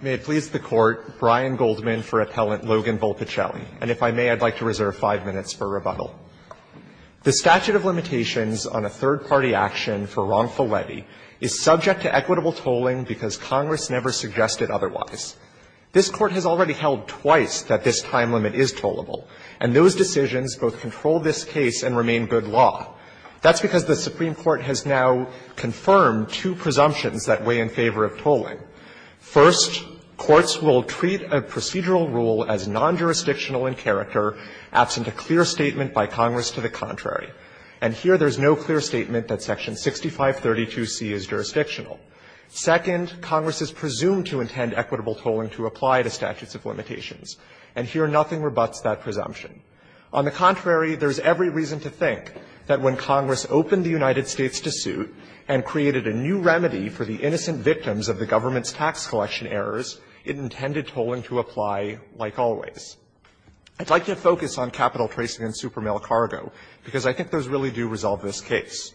May it please the Court, Brian Goldman for Appellant Logan Volpicelli. And if I may, I'd like to reserve five minutes for rebuttal. The statute of limitations on a third-party action for wrongful levy is subject to equitable tolling because Congress never suggested otherwise. This Court has already held twice that this time limit is tollable, and those decisions both control this case and remain good law. That's because the Supreme Court has now confirmed two presumptions that weigh in favor of tolling. First, courts will treat a procedural rule as non-jurisdictional in character absent a clear statement by Congress to the contrary. And here, there's no clear statement that Section 6532C is jurisdictional. Second, Congress is presumed to intend equitable tolling to apply to statutes of limitations. And here, nothing rebuts that presumption. On the contrary, there's every reason to think that when Congress opened the United States to suit and created a new remedy for the innocent victims of the government's tax collection errors, it intended tolling to apply like always. I'd like to focus on capital tracing and supermail cargo, because I think those really do resolve this case.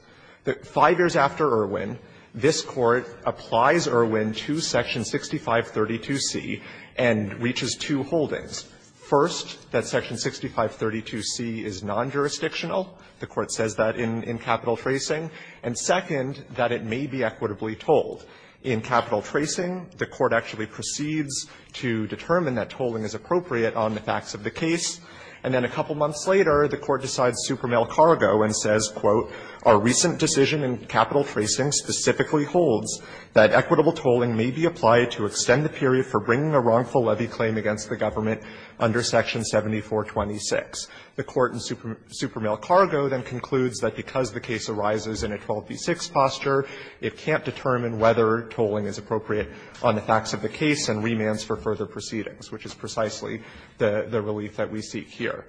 Five years after Irwin, this Court applies Irwin to Section 6532C and reaches two holdings. First, that Section 6532C is non-jurisdictional. The Court says that in capital tracing. And second, that it may be equitably tolled. In capital tracing, the Court actually proceeds to determine that tolling is appropriate on the facts of the case. And then a couple months later, the Court decides supermail cargo and says, quote, our recent decision in capital tracing specifically holds that equitable tolling may be applied to extend the period for bringing a wrongful levy claim against the government under Section 7426. The Court in supermail cargo then concludes that because the case arises in a 12b-6 posture, it can't determine whether tolling is appropriate on the facts of the case and remands for further proceedings, which is precisely the relief that we seek here.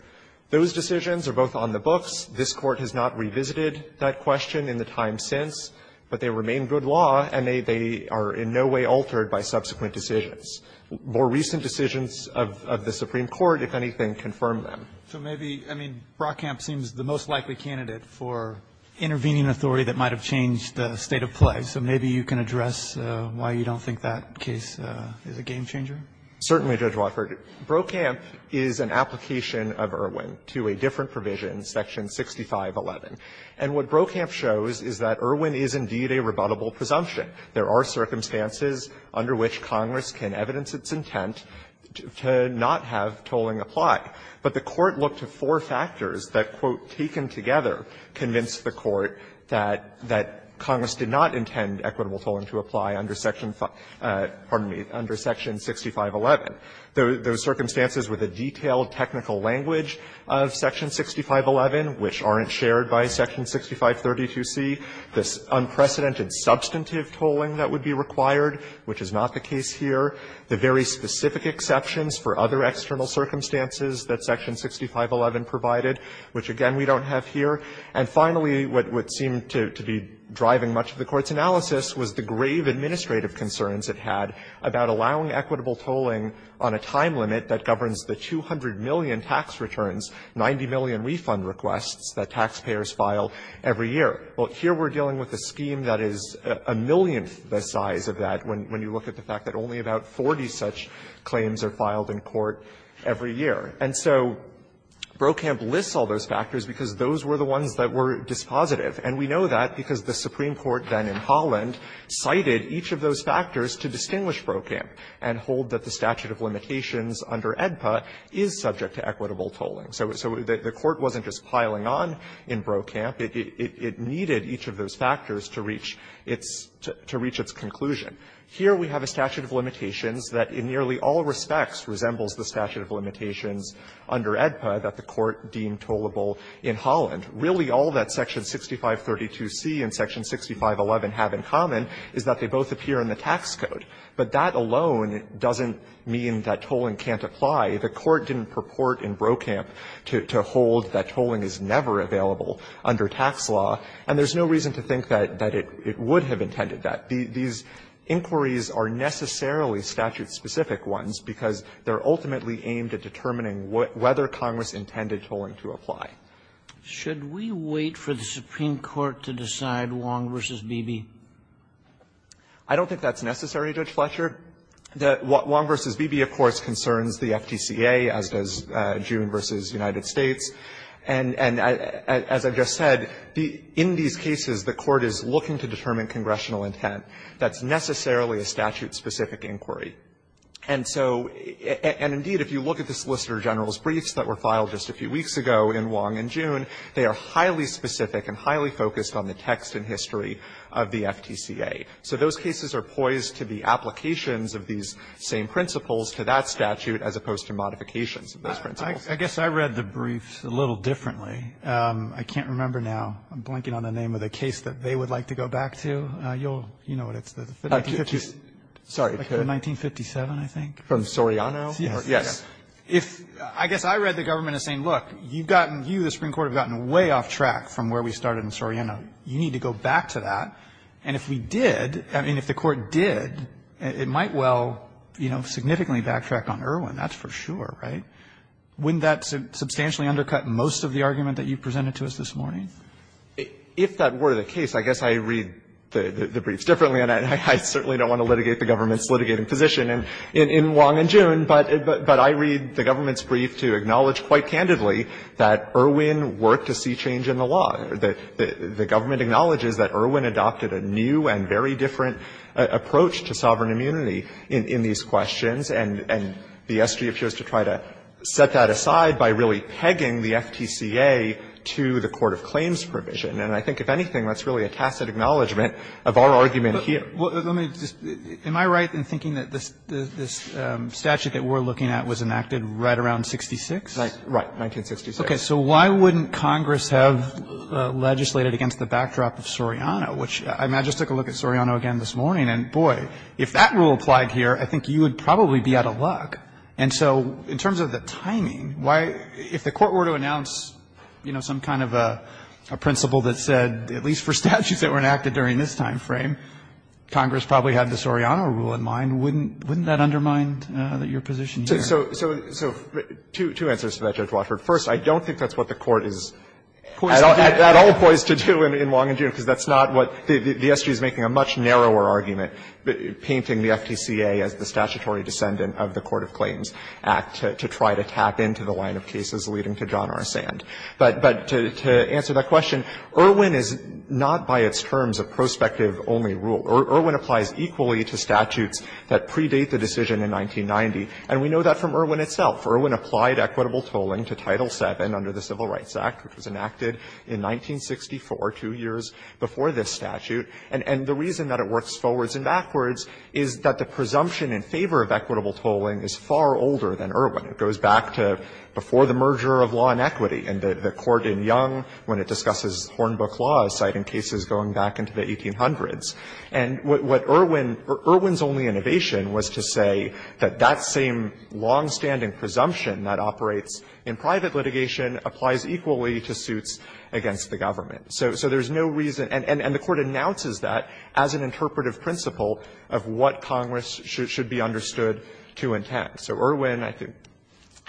Those decisions are both on the books. This Court has not revisited that question in the time since, but they remain good law, and they are in no way altered by subsequent decisions. More recent decisions of the Supreme Court, if anything, confirm them. So maybe, I mean, Brokamp seems the most likely candidate for intervening an authority that might have changed the state of play. So maybe you can address why you don't think that case is a game changer? Certainly, Judge Wofford. Brokamp is an application of Irwin to a different provision, Section 6511. And what Brokamp shows is that Irwin is indeed a rebuttable presumption. There are circumstances under which Congress can evidence its intent to not have tolling apply. But the Court looked to four factors that, quote, taken together convinced the Court that Congress did not intend equitable tolling to apply under Section 55 --" pardon me, under Section 6511. Those circumstances were the detailed technical language of Section 6511, which aren't shared by Section 6532C, this unprecedented substantive tolling that would be required, which is not the case here, the very specific exceptions for other external circumstances that Section 6511 provided, which, again, we don't have here. And finally, what would seem to be driving much of the Court's analysis was the grave administrative concerns it had about allowing equitable tolling on a time limit that governs the 200 million tax returns, 90 million refund requests that taxpayers file every year. Well, here we're dealing with a scheme that is a millionth the size of that when you look at the fact that only about 40 such claims are filed in court every year. And so Brokamp lists all those factors because those were the ones that were dispositive. And we know that because the Supreme Court then in Holland cited each of those factors to distinguish Brokamp and hold that the statute of limitations under AEDPA is subject to equitable tolling. So the Court wasn't just piling on in Brokamp. It needed each of those factors to reach its conclusion. Here we have a statute of limitations that in nearly all respects resembles the statute of limitations under AEDPA that the Court deemed tollable in Holland. Really, all that Section 6532C and Section 6511 have in common is that they both appear in the tax code. But that alone doesn't mean that tolling can't apply. The Court didn't purport in Brokamp to hold that tolling is never available under tax law. And there's no reason to think that it would have intended that. These inquiries are necessarily statute-specific ones because they're ultimately aimed at determining whether Congress intended tolling to apply. Sotomayor, should we wait for the Supreme Court to decide Wong v. Beebe? I don't think that's necessary, Judge Fletcher. Wong v. Beebe, of course, concerns the FTCA, as does June v. United States. And as I just said, in these cases, the Court is looking to determine congressional intent that's necessarily a statute-specific inquiry. And so indeed, if you look at the Solicitor General's briefs that were filed just a few weeks ago in Wong and June, they are highly specific and highly focused on the text and history of the FTCA. So those cases are poised to be applications of these same principles to that statute as opposed to modifications of those principles. I guess I read the briefs a little differently. I can't remember now. I'm blanking on the name of the case that they would like to go back to. You'll know what it's the 1950s 1957, I think. From Soriano? Yes. If I guess I read the government as saying, look, you've gotten, you, the Supreme Court, have gotten way off track from where we started in Soriano. You need to go back to that. And if we did, I mean, if the Court did, it might well, you know, significantly backtrack on Irwin. That's for sure, right? Wouldn't that substantially undercut most of the argument that you presented to us this morning? If that were the case, I guess I read the briefs differently, and I certainly don't want to litigate the government's litigating position in Wong and June, but I read the government's brief to acknowledge quite candidly that Irwin worked to see change in the law. The government acknowledges that Irwin adopted a new and very different approach to sovereign immunity in these questions, and the SG appears to try to set that And I think, if anything, that's really a tacit acknowledgment of our argument here. Let me just, am I right in thinking that this statute that we're looking at was enacted right around 66? Right. 1966. Okay. So why wouldn't Congress have legislated against the backdrop of Soriano, which I just took a look at Soriano again this morning, and boy, if that rule applied here, I think you would probably be out of luck. And so in terms of the timing, why, if the Court were to announce, you know, some kind of a principle that said, at least for statutes that were enacted during this time frame, Congress probably had the Soriano rule in mind, wouldn't that undermine your position here? So two answers to that, Judge Wofford. First, I don't think that's what the Court is at all poised to do in Wong and June, because that's not what the SG is making a much narrower argument, painting the FTCA as the statutory descendant of the Court of Claims Act to try to tap into the line of cases leading to John R. Sand. But to answer that question, Irwin is not by its terms a prospective-only rule. Irwin applies equally to statutes that predate the decision in 1990, and we know that from Irwin itself. Irwin applied equitable tolling to Title VII under the Civil Rights Act, which was enacted in 1964, two years before this statute. And the reason that it works forwards and backwards is that the presumption in favor of equitable tolling is far older than Irwin. It goes back to before the merger of law and equity, and the Court in Young, when it discusses Hornbook Law, is citing cases going back into the 1800s. And what Irwin – Irwin's only innovation was to say that that same longstanding presumption that operates in private litigation applies equally to suits against the government. So there's no reason – and the Court announces that as an interpretive principle of what Congress should be understood to intend. So Irwin, I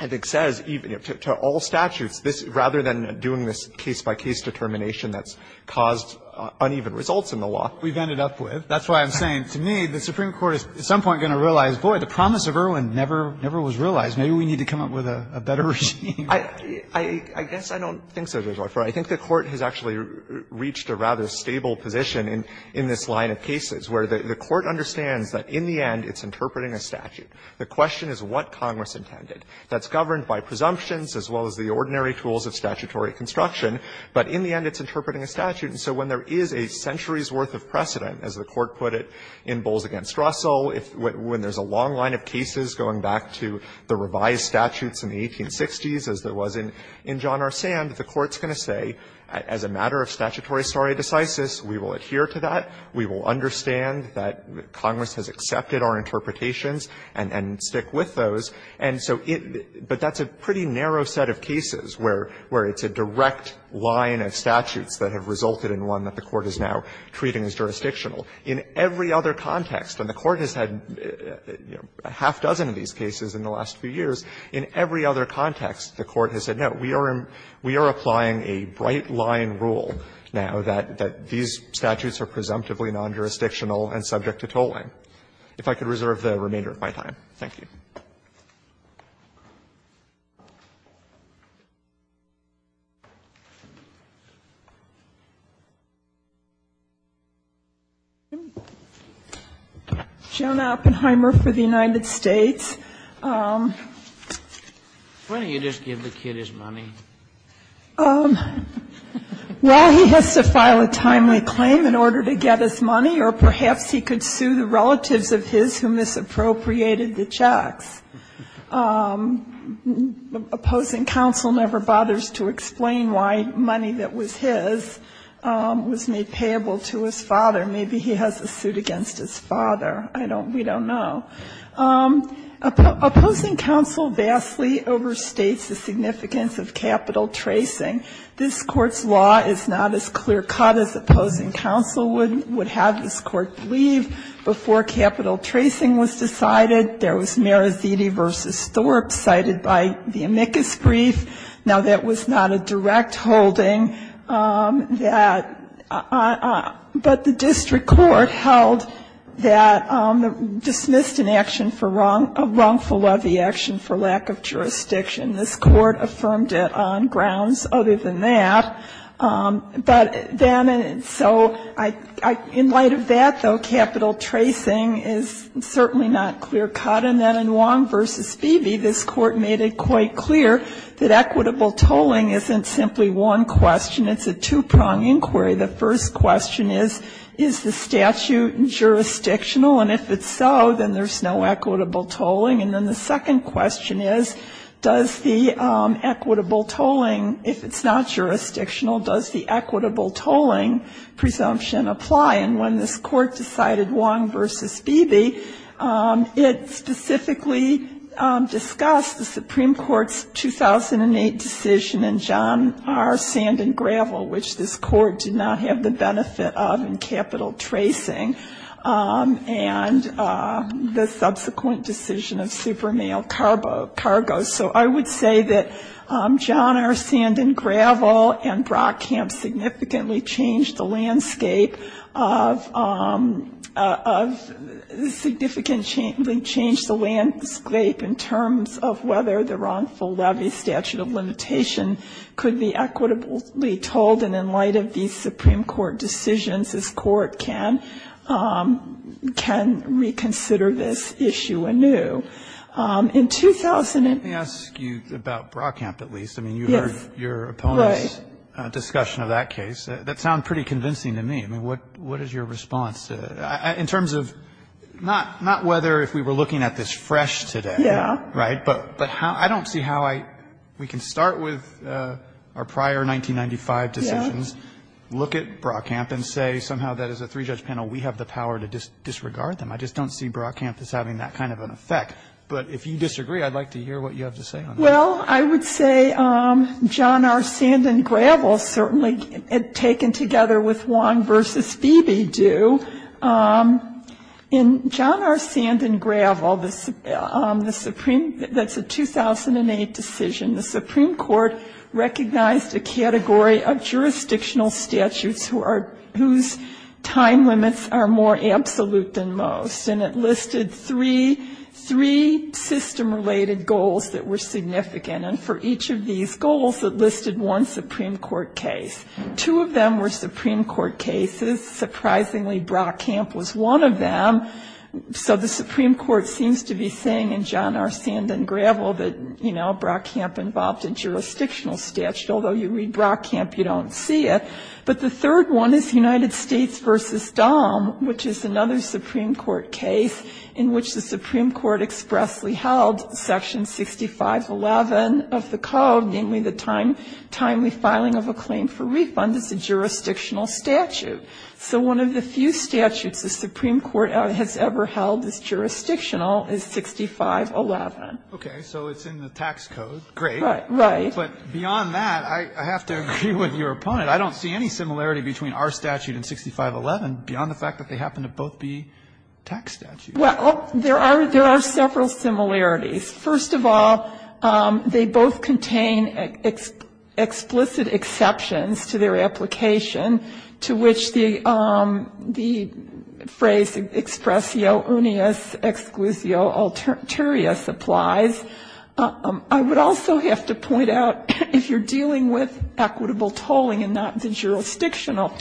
think, says to all statutes, rather than doing this case-by-case determination that's caused uneven results in the law. We've ended up with. That's why I'm saying, to me, the Supreme Court is at some point going to realize, boy, the promise of Irwin never was realized. Maybe we need to come up with a better regime. I guess I don't think so, Judge Olifer. I think the Court has actually reached a rather stable position in this line of cases, where the Court understands that in the end it's interpreting a statute. The question is what Congress intended. That's governed by presumptions as well as the ordinary tools of statutory construction, but in the end it's interpreting a statute. And so when there is a century's worth of precedent, as the Court put it in Bowles v. Russell, when there's a long line of cases going back to the revised statutes in the 1860s, as there was in John R. Sand, the Court's going to say, as a matter of statutory stare decisis, we will adhere to that, we will understand that Congress has accepted our interpretations and stick with those, and so it – but that's a pretty narrow set of cases where it's a direct line of statutes that have resulted in one that the Court is now treating as jurisdictional. In every other context, and the Court has had, you know, a half dozen of these cases in the last few years, in every other context, the Court has said, no, we are applying a bright-line rule now that these statutes are presumptively non-jurisdictional and subject to tolling. So I'm going to stop there, if I could reserve the remainder of my time. Thank you. Ginsburg. John Oppenheimer for the United States. Why don't you just give the kid his money? Well, he has to file a timely claim in order to get his money, or perhaps he could sue the relatives of his who misappropriated the checks. Opposing counsel never bothers to explain why money that was his was made payable to his father. Maybe he has a suit against his father. I don't – we don't know. Opposing counsel vastly overstates the significance of capital tracing. This Court's law is not as clear-cut as opposing counsel would have this Court believe before capital tracing was decided. There was Meraziti v. Thorpe cited by the amicus brief. Now, that was not a direct holding that – but the district court held that – dismissed an action for wrong – a wrongful levy action for lack of jurisdiction. This Court affirmed it on grounds other than that. But then – so in light of that, though, capital tracing is certainly not clear-cut. And then in Wong v. Beebe, this Court made it quite clear that equitable tolling isn't simply one question. It's a two-prong inquiry. The first question is, is the statute jurisdictional? And if it's so, then there's no equitable tolling. And then the second question is, does the equitable tolling, if it's not jurisdictional, does the equitable tolling presumption apply? And when this Court decided Wong v. Beebe, it specifically discussed the Supreme Court's 2008 decision in John R. Sand and Gravel, which this Court did not have the benefit of in capital tracing, and the subsequent decision of Supermail Cargo. So I would say that John R. Sand and Gravel and Brock Camp significantly changed the landscape of – significantly changed the landscape in terms of whether the wrongful levy statute of limitation could be equitably tolled. And in light of these Supreme Court decisions, this Court can – can reconsider this issue anew. In 2000 – Roberts, let me ask you about Brock Camp, at least. I mean, you heard your opponent's discussion of that case. That sounded pretty convincing to me. I mean, what is your response to – in terms of – not whether if we were looking at this fresh today, right, but how – I don't see how I – we can start with our prior 1995 decisions, look at Brock Camp, and say somehow that as a three-judge panel, we have the power to disregard them. I just don't see Brock Camp as having that kind of an effect. But if you disagree, I'd like to hear what you have to say on that. Well, I would say John R. Sand and Gravel certainly, taken together with Wong v. Beebe, do. In John R. Sand and Gravel, the Supreme – that's a 2008 decision. The Supreme Court recognized a category of jurisdictional statutes who are – whose time limits are more absolute than most. And it listed three – three system-related goals that were significant. And for each of these goals, it listed one Supreme Court case. Two of them were Supreme Court cases. Surprisingly, Brock Camp was one of them. So the Supreme Court seems to be saying in John R. Sand and Gravel that, you know, Brock Camp involved a jurisdictional statute, although you read Brock Camp, you don't see it. But the third one is United States v. Dahm, which is another Supreme Court case in which the Supreme Court expressly held section 6511 of the code, namely the timely filing of a claim for refund as a jurisdictional statute. So one of the few statutes the Supreme Court has ever held as jurisdictional is 6511. Okay. So it's in the tax code. Great. Right. But beyond that, I have to agree with your opponent. I don't see any similarity between our statute and 6511 beyond the fact that they happen to both be tax statutes. Well, there are several similarities. First of all, they both contain explicit exceptions to their application to which the phrase expressio unius exquisio alternaturius applies. I would also have to point out, if you're dealing with equitable tolling and not the jurisdictional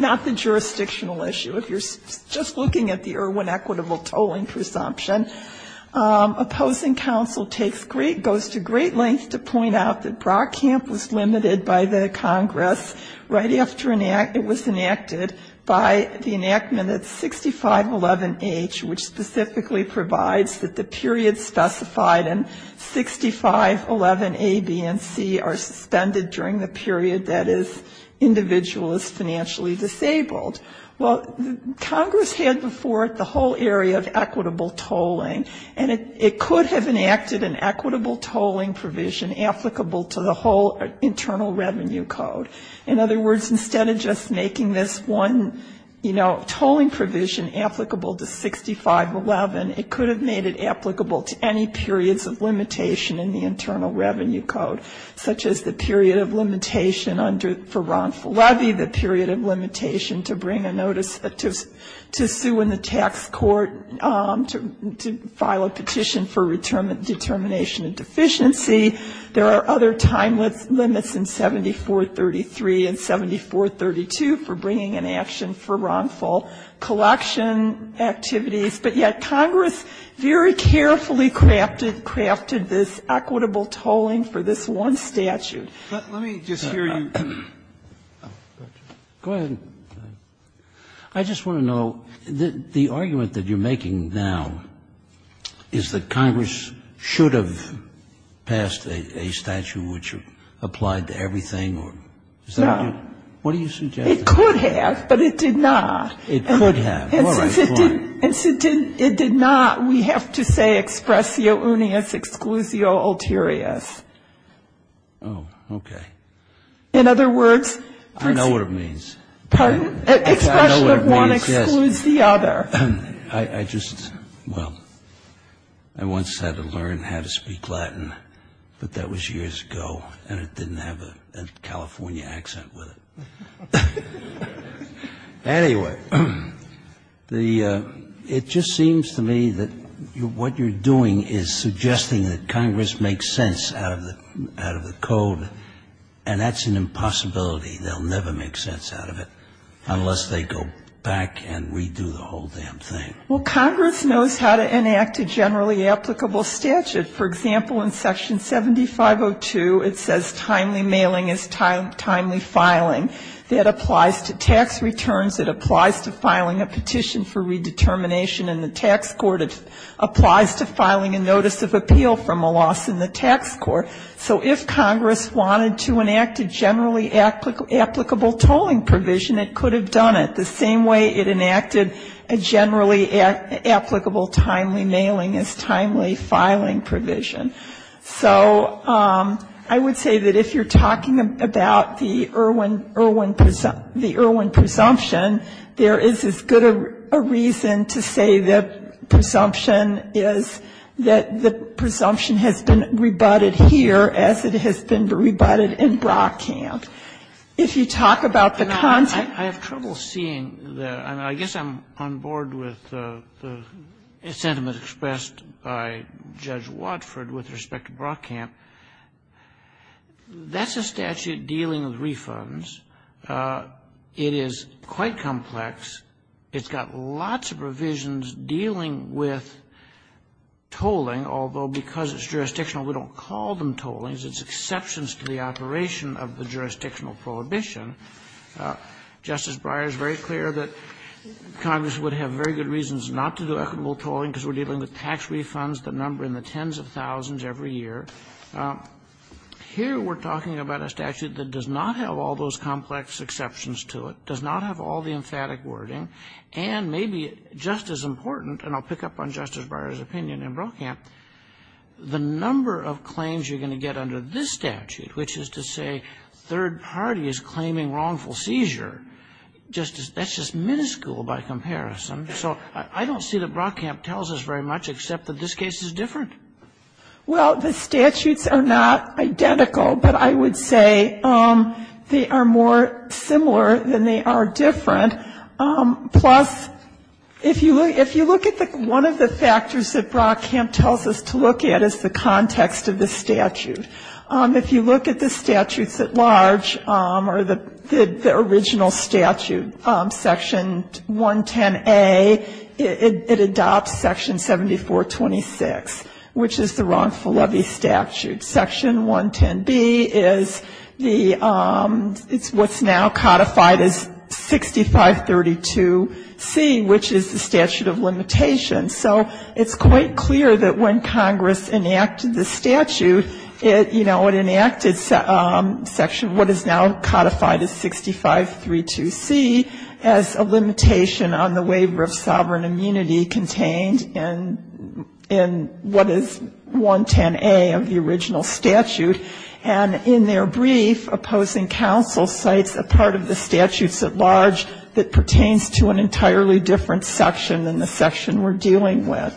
issue, if you're just looking at the Irwin equitable tolling presumption, opposing counsel goes to great lengths to point out that Brock Camp was limited by the Congress right after it was enacted by the enactment of 6511H, which specifically provides that the period specified in 6511A, B, and C are suspended during the period that an individual is financially disabled. Well, Congress had before it the whole area of equitable tolling, and it could have enacted an equitable tolling provision applicable to the whole internal revenue code. In other words, instead of just making this one, you know, tolling provision applicable to 6511, it could have made it applicable to any periods of limitation in the internal revenue code, such as the period of limitation for wrongful levy, the period of limitation to bring a notice to sue in the tax court to file a petition for determination of deficiency. There are other time limits in 7433 and 7432 for bringing an action for wrongful collection activities, but yet Congress very carefully crafted this equitable tolling for this one statute. Let me just hear you. Go ahead. I just want to know, the argument that you're making now is that Congress should have passed a statute which applied to everything, or is that what you're suggesting? It could have, but it did not. It could have. All right. Go on. And since it did not, we have to say expressio unius exclusio ulterioris. Oh, okay. In other words, I know what it means. Pardon? I know what it means, yes. Expression of one excludes the other. I just, well, I once had to learn how to speak Latin, but that was years ago, and it didn't have a California accent with it. Anyway, the ‑‑ it just seems to me that what you're doing is suggesting that Congress makes sense out of the code, and that's an impossibility. They'll never make sense out of it unless they go back and redo the whole damn thing. Well, Congress knows how to enact a generally applicable statute. For example, in Section 7502, it says timely mailing is timely filing. That applies to tax returns. It applies to filing a petition for redetermination in the tax court. It applies to filing a notice of appeal from a loss in the tax court. So if Congress wanted to enact a generally applicable tolling provision, it could have done it the same way it enacted a generally applicable timely mailing as timely filing provision. So I would say that if you're talking about the Irwin presumption, there is as good a reason to say the presumption is that the presumption has been rebutted here as it has been rebutted in Brockcamp. If you talk about the content ‑‑ I have trouble seeing the ‑‑ I guess I'm on board with the sentiment expressed by Judge Watford with respect to Brockcamp. That's a statute dealing with refunds. It is quite complex. It's got lots of provisions dealing with tolling, although because it's jurisdictional, we don't call them tollings. It's exceptions to the operation of the jurisdictional prohibition. Justice Breyer is very clear that Congress would have very good reasons not to do equitable refunds that number in the tens of thousands every year. Here we're talking about a statute that does not have all those complex exceptions to it, does not have all the emphatic wording, and maybe just as important, and I'll pick up on Justice Breyer's opinion in Brockcamp, the number of claims you're going to get under this statute, which is to say third parties claiming wrongful seizure, that's just minuscule by comparison. So I don't see that Brockcamp tells us very much, except that this case is different. Well, the statutes are not identical, but I would say they are more similar than they are different, plus if you look at one of the factors that Brockcamp tells us to look at is the context of the statute. If you look at the statutes at large, or the original statute, Section 110A, it adopts Section 7426, which is the wrongful levy statute. Section 110B is the, it's what's now codified as 6532C, which is the statute of limitation. So it's quite clear that when Congress enacted the statute, it, you know, it enacted Section, what is now codified as 6532C, as a limitation on the waiver of sovereign immunity contained in what is 110A of the original statute. And in their brief, opposing counsel cites a part of the statutes at large that pertains to an entirely different section than the section we're dealing with.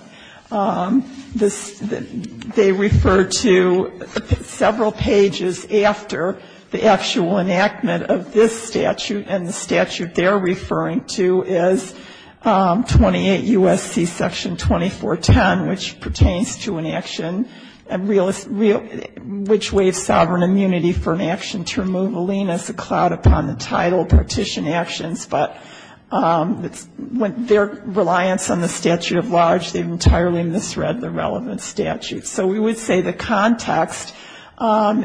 This, they refer to several pages after the actual enactment of this statute. And the statute they're referring to is 28 U.S.C. Section 2410, which pertains to an action realist, real, which waives sovereign immunity for an action to remove a lien as a clout upon the title, partition actions, but it's, their reliance on the statute at large, they've entirely misread the relevant statute. So we would say the context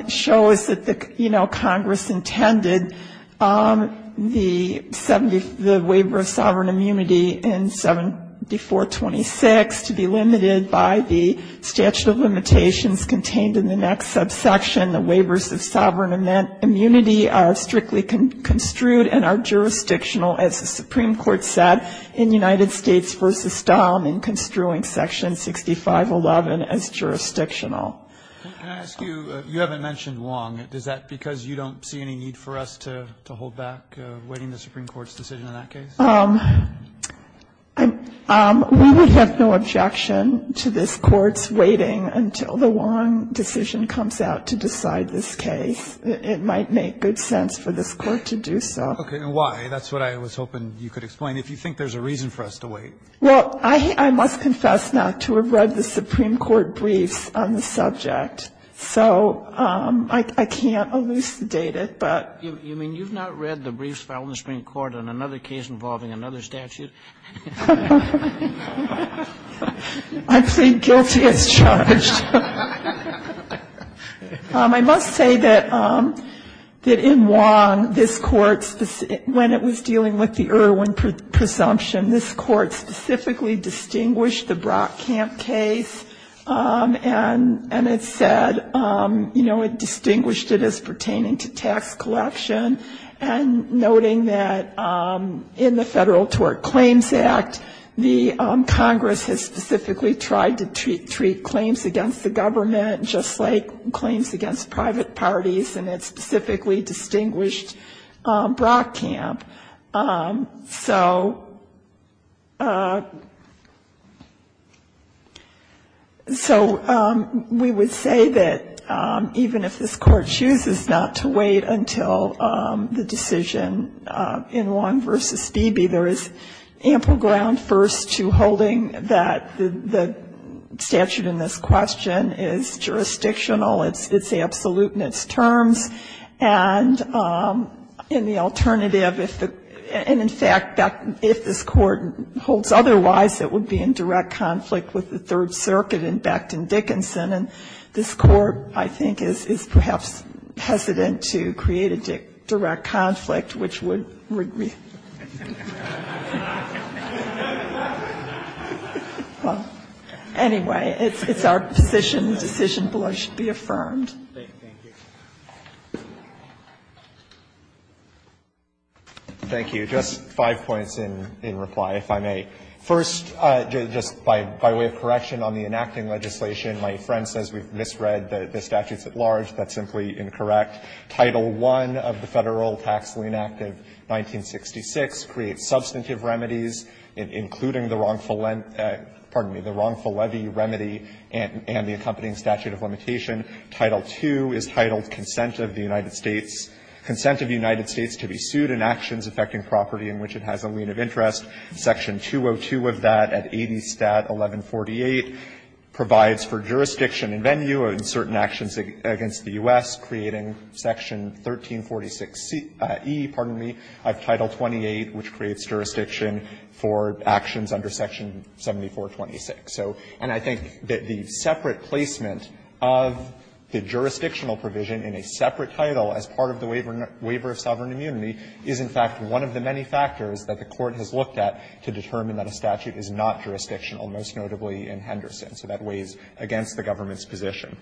shows that the, you know, Congress intended the 70, the waiver of sovereign immunity in 7426 to be limited by the statute of limitations contained in the next subsection. And the waivers of sovereign immunity are strictly construed and are jurisdictional, as the Supreme Court said, in United States v. Dom, in construing Section 6511 as jurisdictional. Breyer, can I ask you, you haven't mentioned Wong. Is that because you don't see any need for us to hold back waiting the Supreme Court's decision in that case? We would have no objection to this Court's waiting until the Wong decision comes out to decide this case. It might make good sense for this Court to do so. Okay. And why? That's what I was hoping you could explain. If you think there's a reason for us to wait. Well, I must confess not to have read the Supreme Court briefs on the subject. So I can't elucidate it, but. You mean you've not read the briefs filed in the Supreme Court on another case involving another statute? I plead guilty as charged. I must say that in Wong, this Court, when it was dealing with the Irwin presumption, this Court specifically distinguished the Brock Camp case, and it said, you know, it distinguished it as pertaining to tax collection, and noting that in the Federal Tort Claims Act, the Congress has specifically tried to treat claims against the state government just like claims against private parties, and it specifically distinguished Brock Camp. So we would say that even if this Court chooses not to wait until the decision in Wong v. Beebe, there is ample ground first to holding that the statute in this question is jurisdictional, it's absolute in its terms, and in the alternative, and in fact, if this Court holds otherwise, it would be in direct conflict with the Third Circuit and Becton Dickinson, and this Court, I think, is perhaps hesitant to create a direct conflict, which would be. Well, anyway, it's our position the decision below should be affirmed. Thank you. Thank you. Just five points in reply, if I may. First, just by way of correction on the enacting legislation, my friend says we've misread the statutes at large. That's simply incorrect. Title I of the Federal Tax Lien Act of 1966 creates substantive remedies, including the wrongful levy remedy and the accompanying statute of limitation. Title II is titled Consent of the United States to be sued in actions affecting property in which it has a lien of interest. Section 202 of that at 80 Stat. 1148 provides for jurisdiction and venue in certain actions against the U.S., creating jurisdiction. Section 1346e, pardon me, of Title 28, which creates jurisdiction for actions under Section 7426. So, and I think that the separate placement of the jurisdictional provision in a separate title as part of the waiver of sovereign immunity is, in fact, one of the many factors that the Court has looked at to determine that a statute is not jurisdictional, most notably in Henderson. So that weighs against the government's position.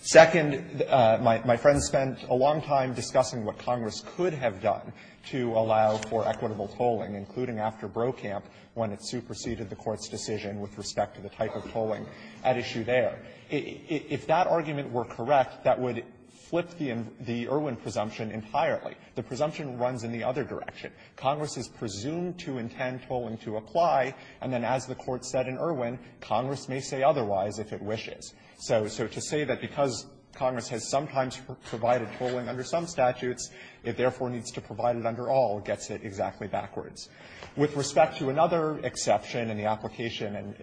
Second, my friend spent a long time discussing what Congress could have done to allow for equitable tolling, including after Brokamp, when it superseded the Court's decision with respect to the type of tolling at issue there. If that argument were correct, that would flip the Irwin presumption entirely. The presumption runs in the other direction. Congress is presumed to intend tolling to apply. And then as the Court said in Irwin, Congress may say otherwise if it wishes. So to say that because Congress has sometimes provided tolling under some statutes, it therefore needs to provide it under all gets it exactly backwards. With respect to another exception in the application, and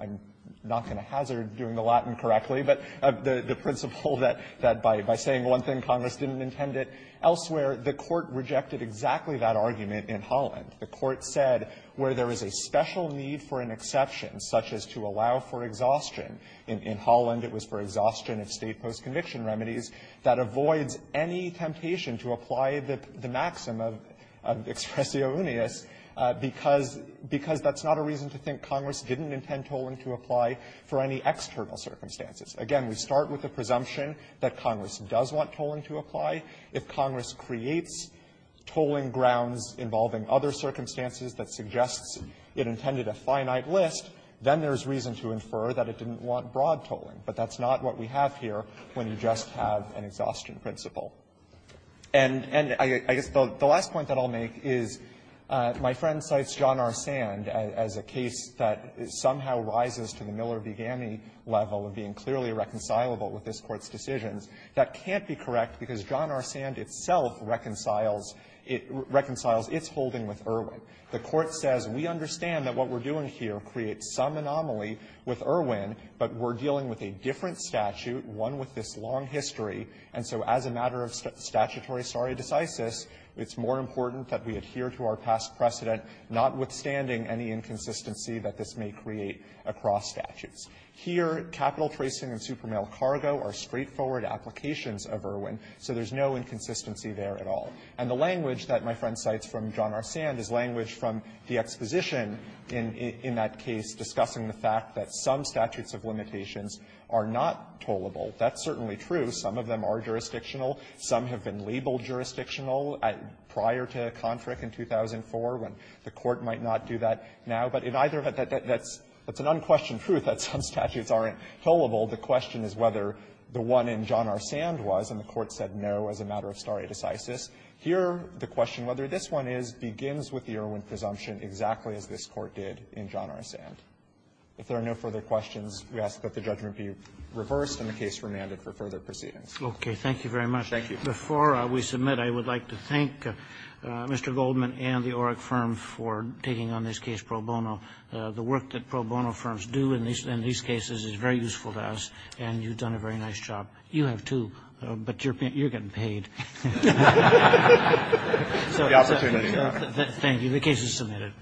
I'm not going to hazard doing the Latin correctly, but the principle that by saying one thing, Congress didn't intend it elsewhere, the Court rejected exactly that argument in Holland. The Court said where there is a special need for an exception, such as to allow for exhaustion, in Holland it was for exhaustion of state post-conviction remedies, that avoids any temptation to apply the maxim of expressio uneus because that's not a reason to think Congress didn't intend tolling to apply for any external circumstances. Again, we start with the presumption that Congress does want tolling to apply. If Congress creates tolling grounds involving other circumstances that suggests it intended a finite list, then there's reason to infer that it didn't want broad tolling. But that's not what we have here when you just have an exhaustion principle. And I guess the last point that I'll make is my friend cites John R. Sand as a case that somehow rises to the Miller-Vigani level of being clearly reconcilable with this Court's decisions. That can't be correct because John R. Sand itself reconciles its holding with Irwin. The Court says we understand that what we're doing here creates some anomaly with Irwin, but we're dealing with a different statute, one with this long history, and so as a matter of statutory stare decisis, it's more important that we adhere to our past precedent, notwithstanding any inconsistency that this may create across statutes. Here, capital tracing and supermail cargo are straightforward applications of Irwin, so there's no inconsistency there at all. And the language that my friend cites from John R. Sand is language from the exposition in that case discussing the fact that some statutes of limitations are not tollable. That's certainly true. Some of them are jurisdictional. Some have been labeled jurisdictional prior to Kontrick in 2004, when the Court might not do that now. But in either of that, that's an unquestioned truth that some statutes aren't tollable. The question is whether the one in John R. Sand was, and the Court said no as a matter of stare decisis. Here, the question, whether this one is, begins with the Irwin presumption exactly as this Court did in John R. Sand. If there are no further questions, we ask that the judgment be reversed and the case remanded for further proceedings. Okay. Thank you very much. Thank you. Before we submit, I would like to thank Mr. Goldman and the Oreck firm for taking on this case pro bono. The work that pro bono firms do in these cases is very useful to us, and you've done a very nice job. You have, too, but you're getting paid. The opportunity. Thank you. The case is submitted.